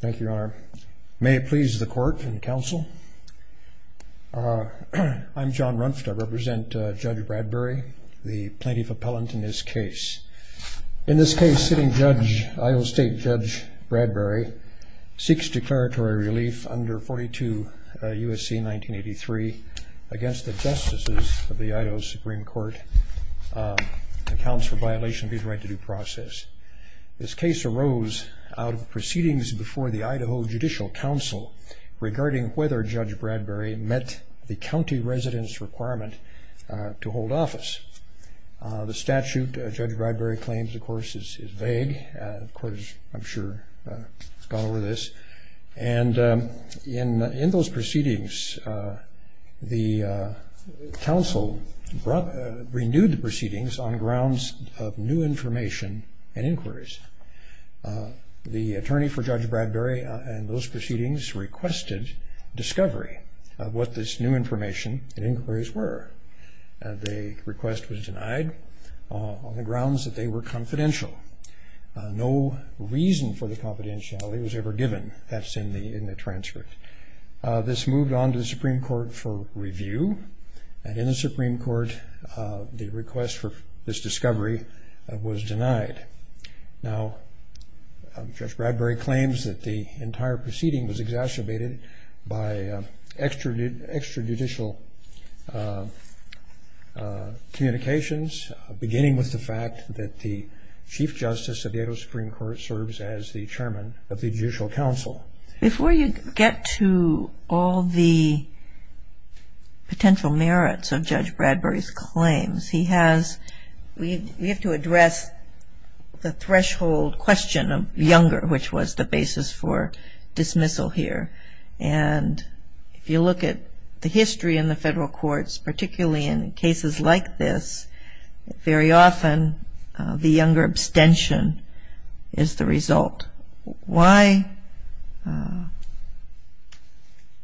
Thank you, Your Honor. May it please the court and counsel. I'm John Runft. I represent Judge Bradbury, the plaintiff appellant in this case. In this case, sitting judge, Idaho State Judge Bradbury, seeks declaratory relief under 42 U.S.C. 1983 against the justices of the Idaho Supreme Court, accounts for violation of his right to due process. This case arose out of proceedings before the Idaho Judicial Council regarding whether Judge Bradbury met the county resident's requirement to hold office. The statute Judge Bradbury claims, of course, is vague. The court has, I'm sure, gone over this. And in those proceedings, the council renewed the proceedings on grounds of new information and inquiries. The attorney for Judge Bradbury in those proceedings requested discovery of what this new information and inquiries were. The request was denied on the grounds that they were confidential. No reason for the confidentiality was ever given. That's in the transcript. This moved on to the Supreme Court for review. And in the Supreme Court, the request for this discovery was denied. Now, Judge Bradbury claims that the entire proceeding was exacerbated by extrajudicial communications, beginning with the fact that the chief justice of the Idaho Supreme Court serves as the chairman of the Judicial Council. Before you get to all the potential merits of Judge Bradbury's claims, he has, we have to address the threshold question of younger, which was the basis for dismissal here. And if you look at the history in the federal courts, particularly in cases like this, very often the younger abstention is the result. Why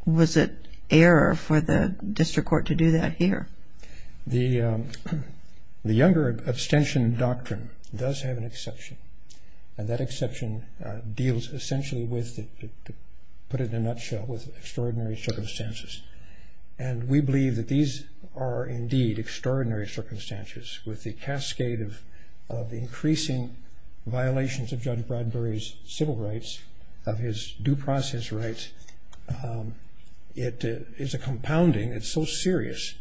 was it error for the district court to do that here? The younger abstention doctrine does have an exception. And that exception deals essentially with, to put it in a nutshell, with extraordinary circumstances. And we believe that these are indeed extraordinary circumstances with the cascade of increasing violations of Judge Bradbury's civil rights, of his due process rights. It is a compounding that's so serious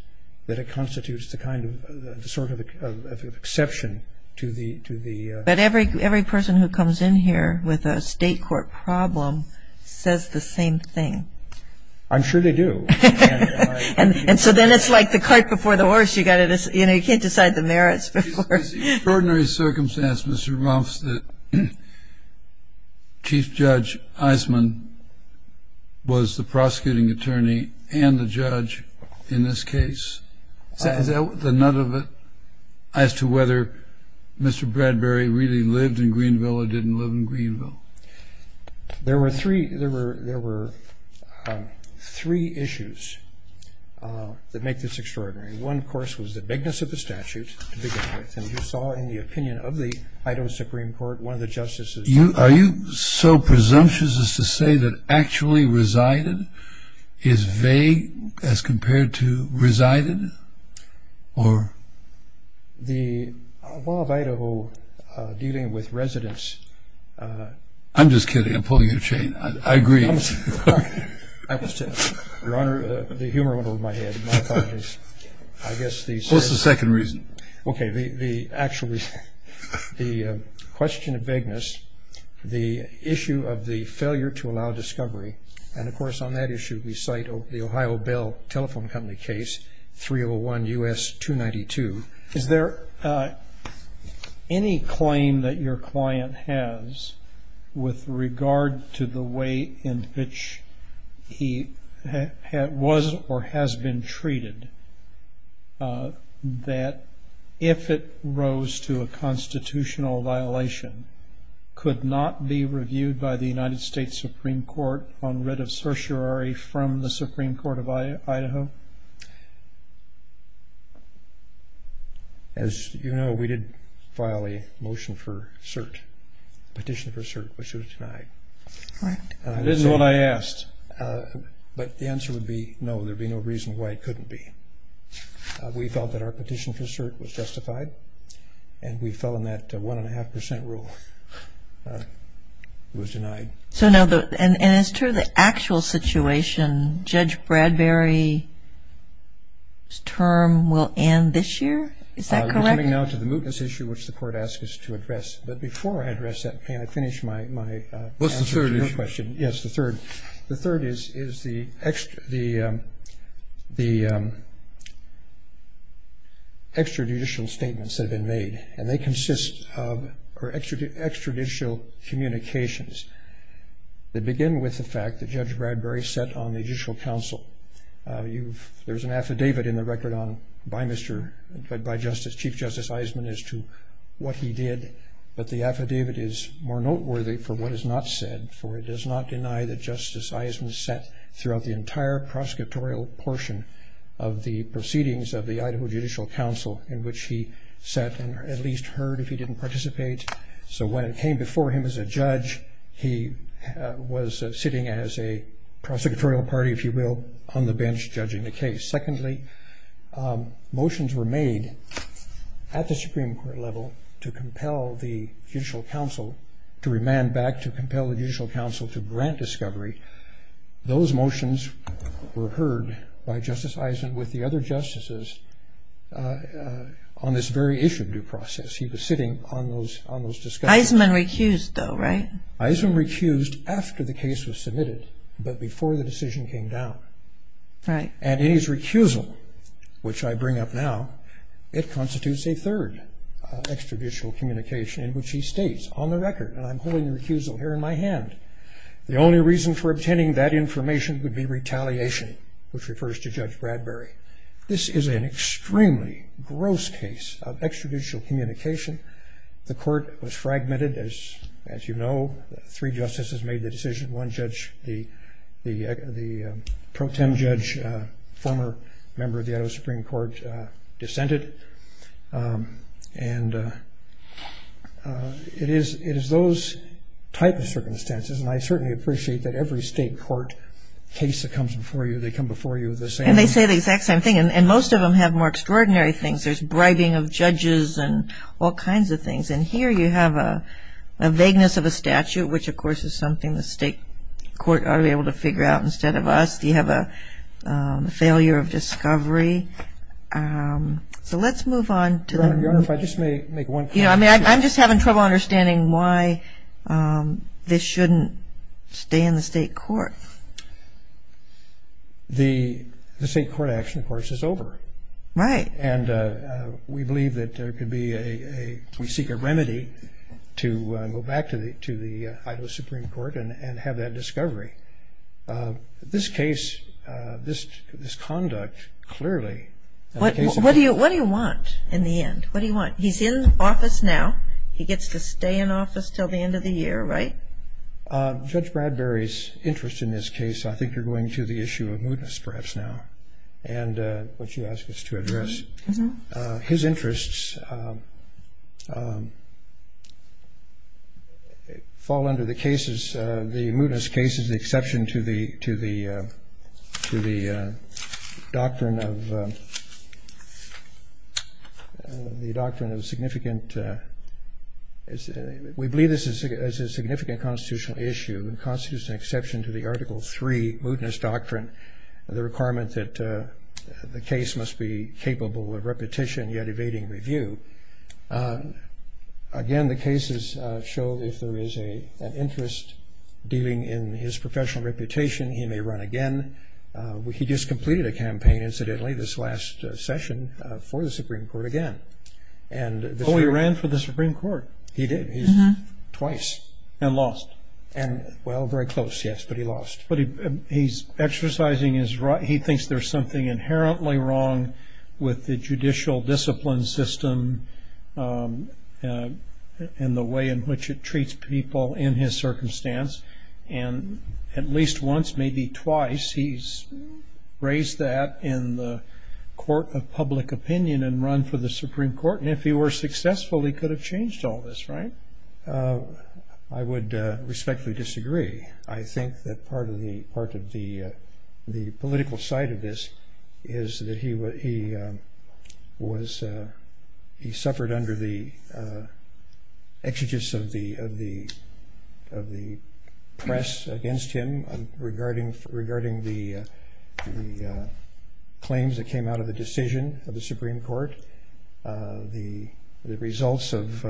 that it constitutes the kind of, the sort of exception to the... But every person who comes in here with a state court problem says the same thing. I'm sure they do. And so then it's like the cart before the horse. You got to, you know, you can't decide the merits before. It's extraordinary circumstance, Mr. Rumpf, that Chief Judge Eisman was the prosecuting attorney and the judge in this case. Is that the nut of it as to whether Mr. Bradbury really lived in Greenville or didn't live in Greenville? There were three issues that make this extraordinary. One, of course, was the bigness of the statute to begin with. And you saw in the opinion of the Idaho Supreme Court, one of the justices... Are you so presumptuous as to say that actually resided is vague as compared to resided? The law of Idaho dealing with residents... I'm just kidding. I'm pulling your chain. I agree. Your Honor, the humor went over my head. What's the second reason? Actually, the question of vagueness, the issue of the failure to allow discovery, and, of course, on that issue, we cite the Ohio Bell Telephone Company case, 301 U.S. 292. Is there any claim that your client has with regard to the way in which he was or has been treated that if it rose to a constitutional violation, could not be reviewed by the United States Supreme Court on writ of certiorari from the Supreme Court of Idaho? As you know, we did file a motion for cert, petition for cert, which was denied. That is what I asked. But the answer would be no. There would be no reason why it couldn't be. We felt that our petition for cert was justified, and we fell in that one-and-a-half-percent rule. It was denied. And as to the actual situation, Judge Bradbury's term will end this year? Is that correct? We're coming now to the mootness issue, which the Court asked us to address. But before I address that, may I finish my answer to your question? What's the third issue? Yes, the third. The third is the extrajudicial statements that have been made, and they consist of extrajudicial communications that begin with the fact that Judge Bradbury set on the Judicial Council. There's an affidavit in the record by Chief Justice Eisman as to what he did, but the affidavit is more noteworthy for what is not said, for it does not deny that Justice Eisman sat throughout the entire prosecutorial portion of the proceedings of the Idaho Judicial Council, in which he sat and at least heard if he didn't participate. So when it came before him as a judge, he was sitting as a prosecutorial party, if you will, on the bench judging the case. Secondly, motions were made at the Supreme Court level to compel the Judicial Council to remand back, to compel the Judicial Council to grant discovery. Those motions were heard by Justice Eisman with the other justices on this very issue of due process. He was sitting on those discussions. Eisman recused, though, right? Eisman recused after the case was submitted, but before the decision came down. Right. And in his recusal, which I bring up now, it constitutes a third extrajudicial communication in which he states on the record, and I'm holding the recusal here in my hand, the only reason for obtaining that information would be retaliation, which refers to Judge Bradbury. This is an extremely gross case of extrajudicial communication. The court was fragmented, as you know. Three justices made the decision. One judge, the pro tem judge, former member of the Idaho Supreme Court, dissented. And it is those type of circumstances, and I certainly appreciate that every state court case that comes before you, they come before you the same. And they say the exact same thing, and most of them have more extraordinary things. There's bribing of judges and all kinds of things. And here you have a vagueness of a statute, which, of course, is something the state court ought to be able to figure out instead of us. You have a failure of discovery. So let's move on. Your Honor, if I just may make one comment. I'm just having trouble understanding why this shouldn't stay in the state court. The state court action, of course, is over. Right. And we believe that there could be a, we seek a remedy to go back to the Idaho Supreme Court and have that discovery. This case, this conduct, clearly. What do you want in the end? What do you want? He's in office now. He gets to stay in office until the end of the year, right? Judge Bradbury's interest in this case, I think you're going to the issue of mootness perhaps now. And what you asked us to address. His interests fall under the cases, the mootness cases, the exception to the doctrine of significant. We believe this is a significant constitutional issue and constitutes an exception to the Article III mootness doctrine, the requirement that the case must be capable of repetition, yet evading review. Again, the cases show if there is an interest dealing in his professional reputation, he may run again. He just completed a campaign, incidentally, this last session for the Supreme Court again. Oh, he ran for the Supreme Court. He did. Twice. And lost. Well, very close, yes, but he lost. But he's exercising his right. He thinks there's something inherently wrong with the judicial discipline system and the way in which it treats people in his circumstance. And at least once, maybe twice, he's raised that in the court of public opinion and run for the Supreme Court. And if he were successful, he could have changed all this, right? I would respectfully disagree. I think that part of the political side of this is that he suffered under the exegesis of the press against him regarding the claims that came out of the decision of the Supreme Court, the results of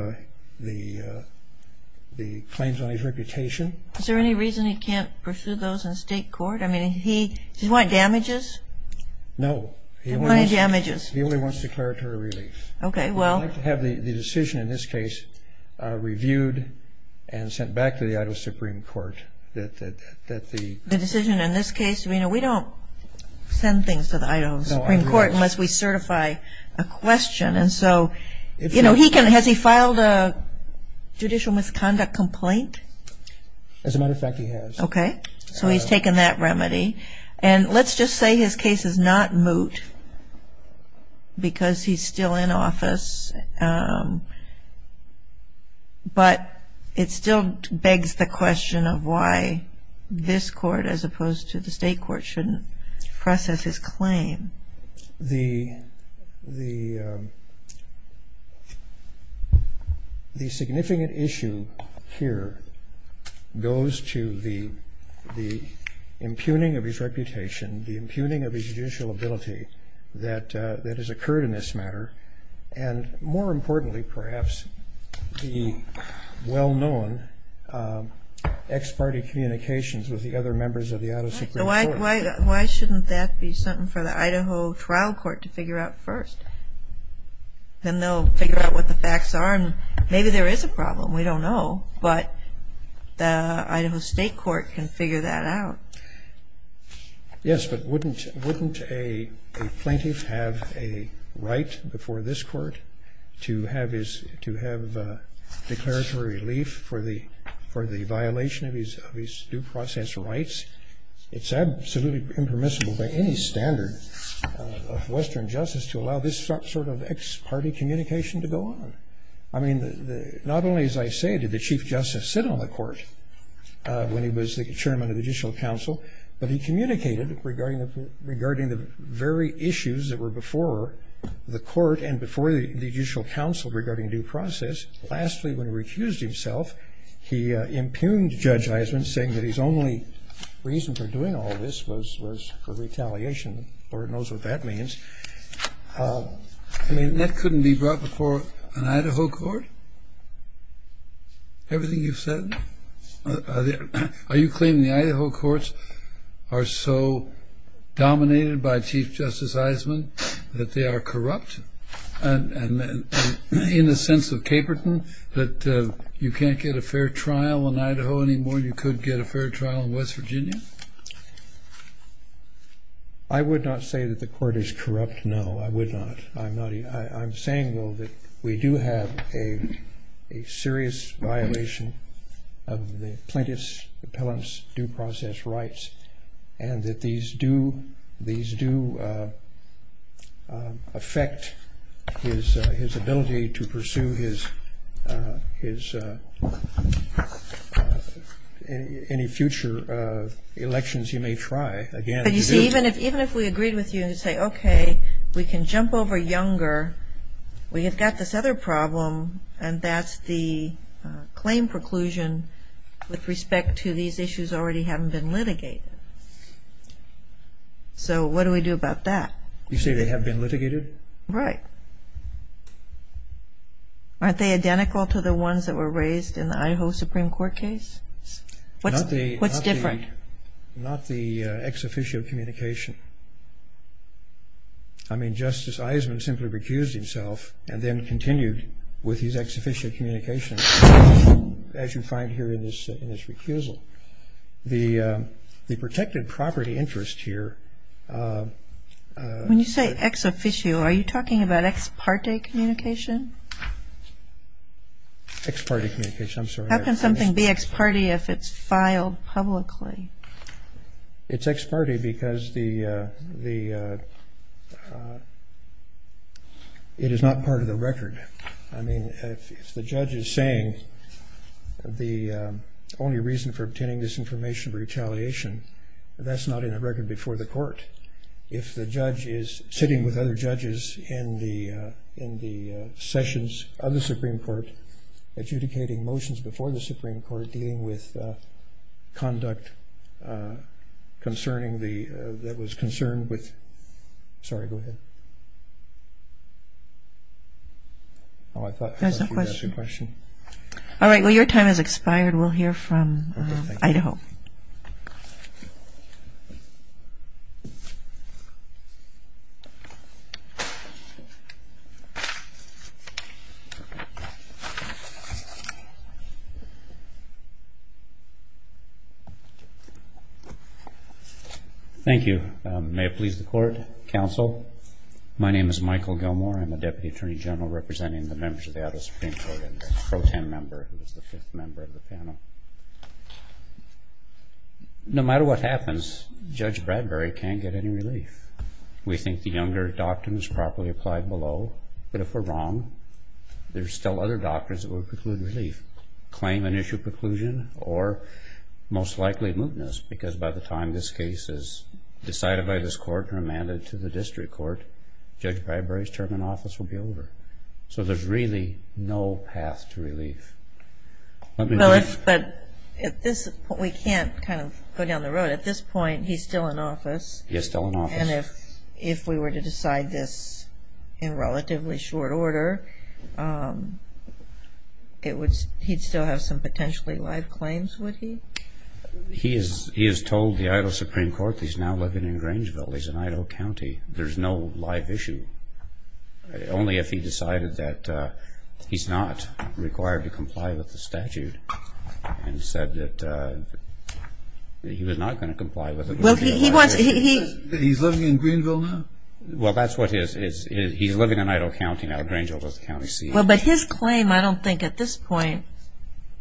the claims on his reputation. Is there any reason he can't pursue those in state court? I mean, does he want damages? No. Money damages. He only wants declaratory relief. Okay, well. I'd like to have the decision in this case reviewed and sent back to the Idaho Supreme Court. The decision in this case, we don't send things to the Idaho Supreme Court unless we certify a question. And so, you know, has he filed a judicial misconduct complaint? As a matter of fact, he has. Okay. So he's taken that remedy. And let's just say his case is not moot because he's still in office, but it still begs the question of why this court as opposed to the state court shouldn't process his claim. The significant issue here goes to the impugning of his reputation, the impugning of his judicial ability that has occurred in this matter, and more importantly, perhaps, the well-known ex-party communications with the other members of the Idaho Supreme Court. So why shouldn't that be something for the Idaho trial court to figure out first? Then they'll figure out what the facts are, and maybe there is a problem. We don't know. But the Idaho state court can figure that out. Yes, but wouldn't a plaintiff have a right before this court to have declaratory relief for the violation of his due process rights? It's absolutely impermissible by any standard of Western justice to allow this sort of ex-party communication to go on. I mean, not only, as I say, did the Chief Justice sit on the court when he was the Chairman of the Judicial Council, but he communicated regarding the very issues that were before the court and before the Judicial Council regarding due process. Lastly, when he refused himself, he impugned Judge Eisenman, saying that his only reason for doing all this was for retaliation. Lord knows what that means. I mean, that couldn't be brought before an Idaho court? Everything you've said? Are you claiming the Idaho courts are so dominated by Chief Justice Eisenman that they are corrupt in the sense of Caperton, that you can't get a fair trial in Idaho anymore than you could get a fair trial in West Virginia? I would not say that the court is corrupt, no, I would not. I'm saying, though, that we do have a serious violation of the plaintiff's appellant's due process rights and that these do affect his ability to pursue any future elections he may try again. But you see, even if we agreed with you to say, okay, we can jump over Younger, we have got this other problem, and that's the claim preclusion with respect to these issues already having been litigated. So what do we do about that? You say they have been litigated? Right. Aren't they identical to the ones that were raised in the Idaho Supreme Court case? What's different? Not the ex officio communication. I mean, Justice Eisenman simply recused himself and then continued with his ex officio communication, as you find here in his recusal. The protected property interest here- When you say ex officio, are you talking about ex parte communication? Ex parte communication, I'm sorry. How can something be ex parte if it's filed publicly? It's ex parte because it is not part of the record. I mean, if the judge is saying the only reason for obtaining this information for retaliation, that's not in a record before the court. If the judge is sitting with other judges in the sessions of the Supreme Court adjudicating motions before the Supreme Court, dealing with conduct that was concerned with- Sorry, go ahead. Oh, I thought you asked a question. All right. Well, your time has expired. We'll hear from Idaho. Thank you. May it please the Court, Counsel. My name is Michael Gilmore. I'm a Deputy Attorney General representing the members of the Idaho Supreme Court and a pro tem member who is the fifth member of the panel. No matter what happens, Judge Bradbury can't get any relief. We think the Younger Doctrine is properly applied below, but if we're wrong, there's still other doctrines that would preclude relief. Claim and issue preclusion or most likely mootness because by the time this case is decided by this court and remanded to the district court, Judge Bradbury's term in office will be over. So there's really no path to relief. But we can't kind of go down the road. At this point, he's still in office. He is still in office. And if we were to decide this in relatively short order, he'd still have some potentially live claims, would he? He has told the Idaho Supreme Court he's now living in Grangeville. He's in Idaho County. There's no live issue. Only if he decided that he's not required to comply with the statute and said that he was not going to comply with it. He's living in Greenville now? Well, that's what he is. He's living in Idaho County now. Grangeville is the county seat. Well, but his claim, I don't think at this point,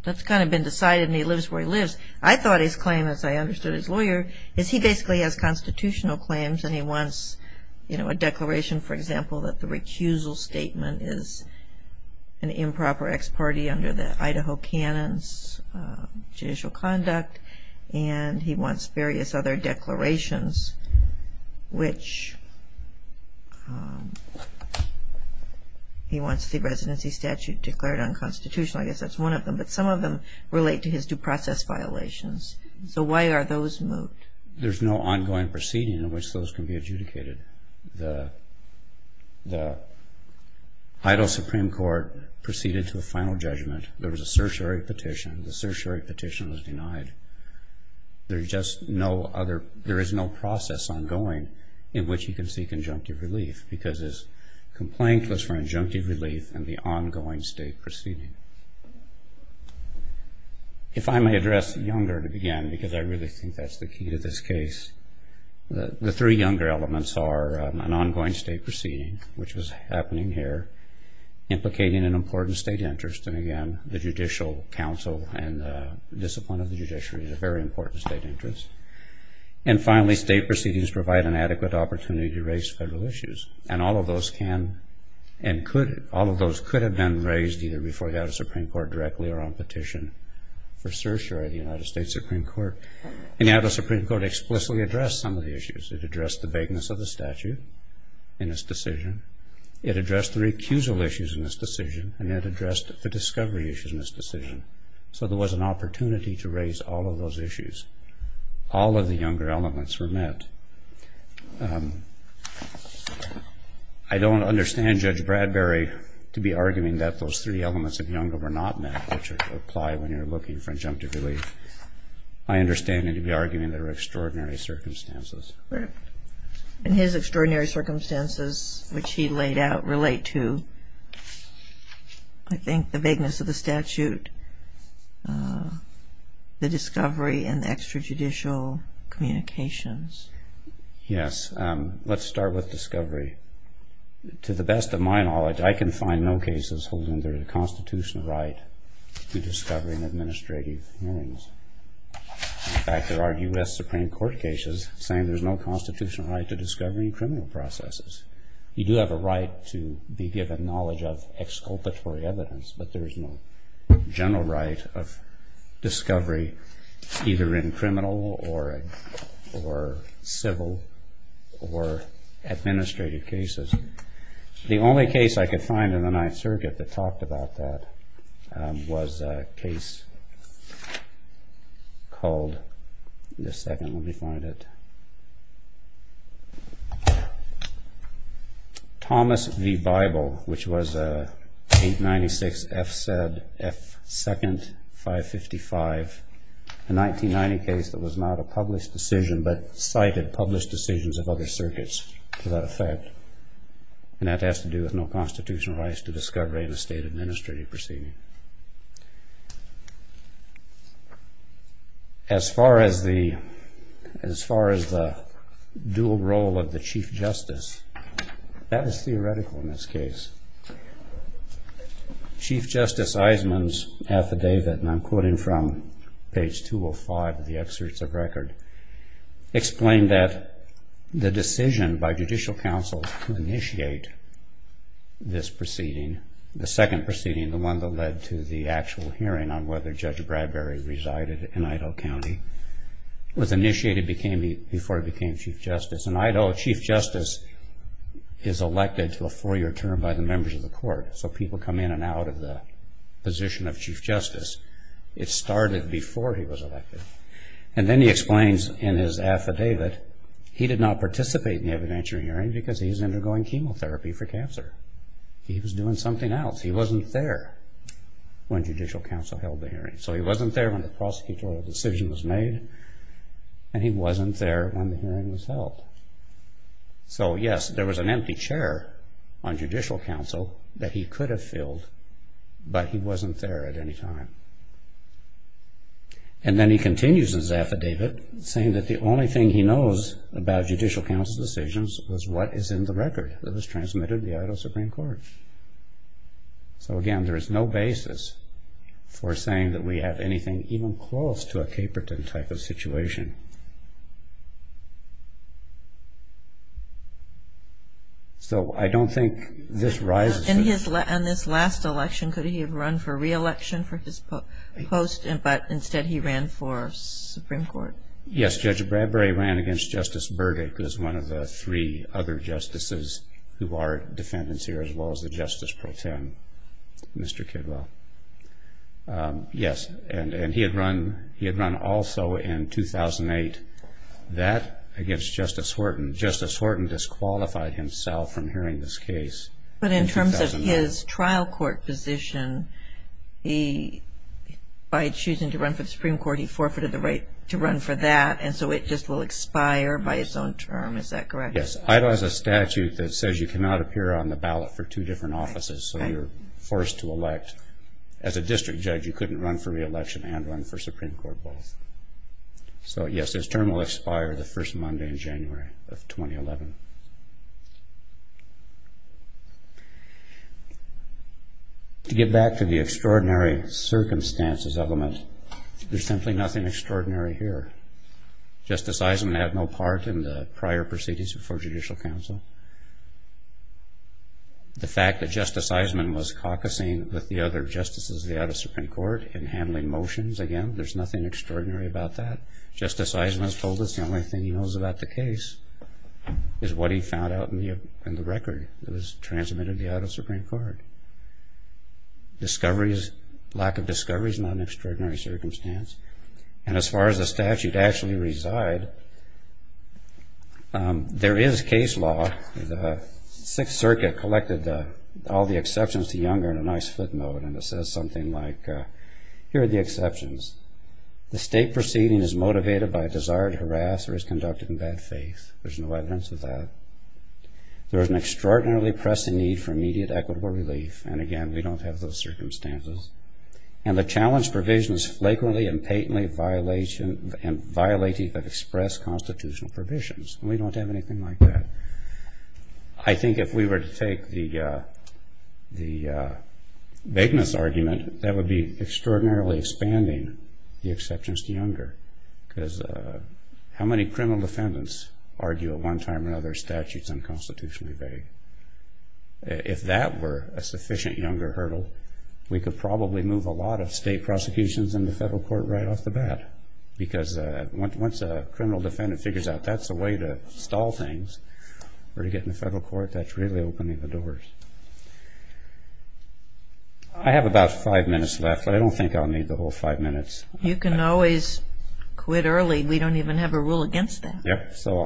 that's kind of been decided and he lives where he lives. I thought his claim, as I understood his lawyer, is he basically has constitutional claims and he wants a declaration, for example, that the recusal statement is an improper ex parte under the Idaho canon's judicial conduct. And he wants various other declarations, which he wants the residency statute declared unconstitutional. I guess that's one of them. But some of them relate to his due process violations. So why are those moved? There's no ongoing proceeding in which those can be adjudicated. The Idaho Supreme Court proceeded to a final judgment. There was a certiorari petition. The certiorari petition was denied. There is no process ongoing in which he can seek injunctive relief because his complaint was for injunctive relief and the ongoing state proceeding. If I may address Younger to begin, because I really think that's the key to this case, the three Younger elements are an ongoing state proceeding, which was happening here, implicating an important state interest, and again the judicial counsel and discipline of the judiciary is a very important state interest. And finally, state proceedings provide an adequate opportunity to raise federal issues. And all of those could have been raised either before the Idaho Supreme Court directly or on petition for certiorari, the United States Supreme Court. And the Idaho Supreme Court explicitly addressed some of the issues. It addressed the vagueness of the statute in its decision. It addressed the recusal issues in its decision. And it addressed the discovery issues in its decision. So there was an opportunity to raise all of those issues. All of the Younger elements were met. I don't understand Judge Bradbury to be arguing that those three elements of Younger were not met, which apply when you're looking for injunctive relief. I understand him to be arguing there were extraordinary circumstances. In his extraordinary circumstances, which he laid out, relate to, I think, the vagueness of the statute, the discovery, and the extrajudicial communications. Yes. Let's start with discovery. To the best of my knowledge, I can find no cases holding their constitutional right to discovery in administrative hearings. In fact, there are U.S. Supreme Court cases saying there's no constitutional right to discovery in criminal processes. You do have a right to be given knowledge of exculpatory evidence, but there is no general right of discovery either in criminal or civil or administrative cases. The only case I could find in the Ninth Circuit that talked about that was a case called Thomas v. Bible, which was 896 F. Second 555, a 1990 case that was not a published decision, but cited published decisions of other circuits to that effect. And that has to do with no constitutional rights to discovery in a state administrative proceeding. As far as the dual role of the Chief Justice, that is theoretical in this case. Chief Justice Eisenman's affidavit, and I'm quoting from page 205 of the excerpts of record, explained that the decision by judicial counsel to initiate this proceeding, the second proceeding, the one that led to the actual hearing on whether Judge Bradbury resided in Idaho County, was initiated before he became Chief Justice. And Idaho Chief Justice is elected to a four-year term by the members of the court, so people come in and out of the position of Chief Justice. It started before he was elected. And then he explains in his affidavit he did not participate in the evidentiary hearing because he was undergoing chemotherapy for cancer. He was doing something else. He wasn't there when judicial counsel held the hearing. So he wasn't there when the prosecutorial decision was made, and he wasn't there when the hearing was held. So, yes, there was an empty chair on judicial counsel that he could have filled, but he wasn't there at any time. And then he continues his affidavit saying that the only thing he knows about judicial counsel's decisions was what is in the record that was transmitted to the Idaho Supreme Court. So, again, there is no basis for saying that we have anything even close to a Caperton type of situation. So I don't think this rises to the... In this last election, could he have run for re-election for his post, but instead he ran for Supreme Court? Yes, Judge Bradbury ran against Justice Burdick, who is one of the three other justices who are defendants here, as well as the Justice Pro Tem, Mr. Kidwell. Yes, and he had run also in 2008. That against Justice Horton. Justice Horton disqualified himself from hearing this case. But in terms of his trial court position, by choosing to run for the Supreme Court, he forfeited the right to run for that, and so it just will expire by its own term, is that correct? Yes, Idaho has a statute that says you cannot appear on the ballot for two different offices, so you're forced to elect. As a district judge, you couldn't run for re-election and run for Supreme Court both. So, yes, his term will expire the first Monday in January of 2011. To get back to the extraordinary circumstances element, there's simply nothing extraordinary here. Justice Eisenman had no part in the prior proceedings before judicial counsel. The fact that Justice Eisenman was caucusing with the other justices of the Idaho Supreme Court and handling motions again, there's nothing extraordinary about that. Justice Eisenman has told us the only thing he knows about the case is what he found out in the record that was transmitted to the Idaho Supreme Court. Lack of discovery is not an extraordinary circumstance. And as far as the statute actually resides, there is case law. The Sixth Circuit collected all the exceptions to Younger in a nice footnote, and it says something like, here are the exceptions. The state proceeding is motivated by a desire to harass or is conducted in bad faith. There's no evidence of that. There is an extraordinarily pressing need for immediate equitable relief. And, again, we don't have those circumstances. And the challenge provisions flagrantly and patently violate even express constitutional provisions. We don't have anything like that. I think if we were to take the bigness argument, that would be extraordinarily expanding the exceptions to Younger because how many criminal defendants argue at one time or another statutes unconstitutionally vague? If that were a sufficient Younger hurdle, we could probably move a lot of state prosecutions in the federal court right off the bat because once a criminal defendant figures out that's the way to stall things or to get in the federal court, that's really opening the doors. I have about five minutes left, but I don't think I'll need the whole five minutes. You can always quit early. We don't even have a rule against that. Yep. So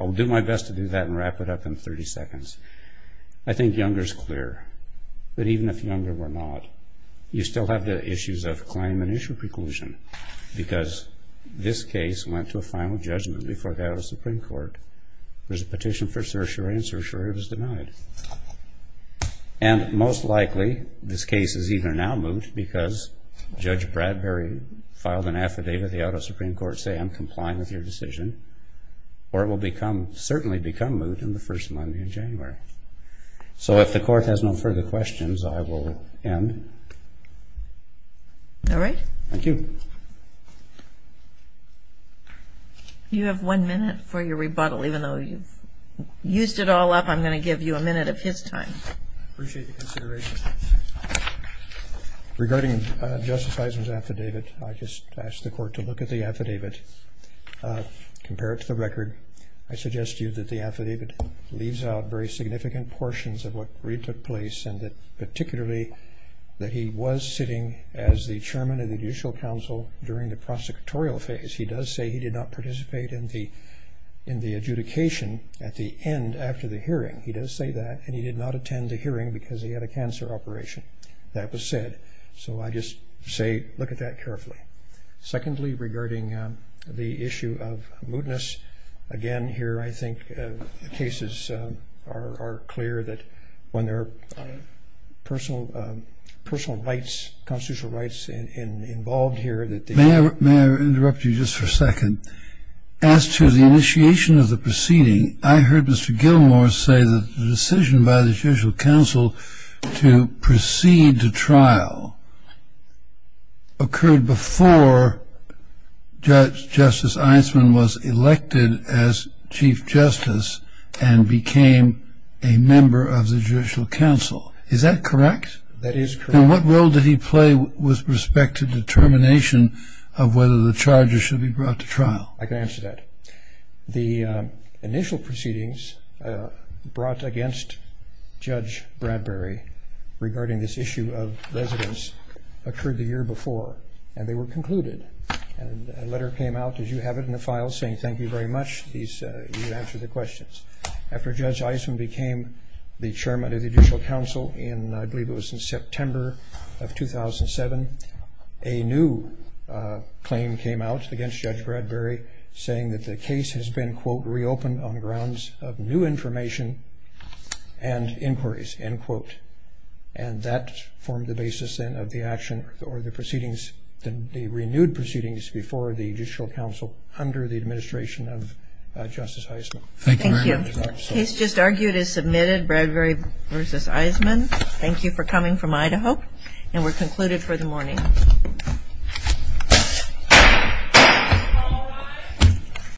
I'll do my best to do that and wrap it up in 30 seconds. I think Younger is clear that even if Younger were not, you still have the issues of claim and issue preclusion because this case went to a final judgment before it got out of the Supreme Court. There was a petition for certiorari, and certiorari was denied. And most likely this case is either now moot because Judge Bradbury filed an affidavit with the out of Supreme Court saying I'm complying with your decision, or it will certainly become moot on the first Monday of January. So if the court has no further questions, I will end. All right. Thank you. You have one minute for your rebuttal. Even though you've used it all up, I'm going to give you a minute of his time. Appreciate the consideration. Regarding Justice Eisen's affidavit, I just asked the court to look at the affidavit, compare it to the record. I suggest to you that the affidavit leaves out very significant portions of what really took place and that particularly that he was sitting as the chairman of the judicial council during the prosecutorial phase. He does say he did not participate in the adjudication at the end after the hearing. He does say that. And he did not attend the hearing because he had a cancer operation. That was said. So I just say look at that carefully. Secondly, regarding the issue of mootness, again, here I think the cases are clear that when there are personal rights, constitutional rights involved here. May I interrupt you just for a second? As to the initiation of the proceeding, I heard Mr. Gilmour say that the decision by the judicial council to proceed to trial occurred before Justice Eisen was elected as chief justice and became a member of the judicial council. Is that correct? That is correct. And what role did he play with respect to determination of whether the charges should be brought to trial? I can answer that. The initial proceedings brought against Judge Bradbury regarding this issue of residence occurred the year before and they were concluded. And a letter came out, as you have it in the file, saying thank you very much. You answered the questions. After Judge Eisen became the chairman of the judicial council, I believe it was in September of 2007, a new claim came out against Judge Bradbury saying that the case has been reopened on grounds of new information and inquiries, end quote. And that formed the basis then of the action or the proceedings, the renewed proceedings before the judicial council under the administration of Justice Eisen. Thank you very much. Thank you. The case just argued is submitted, Bradbury v. Eisenman. Thank you for coming from Idaho. And we're concluded for the morning.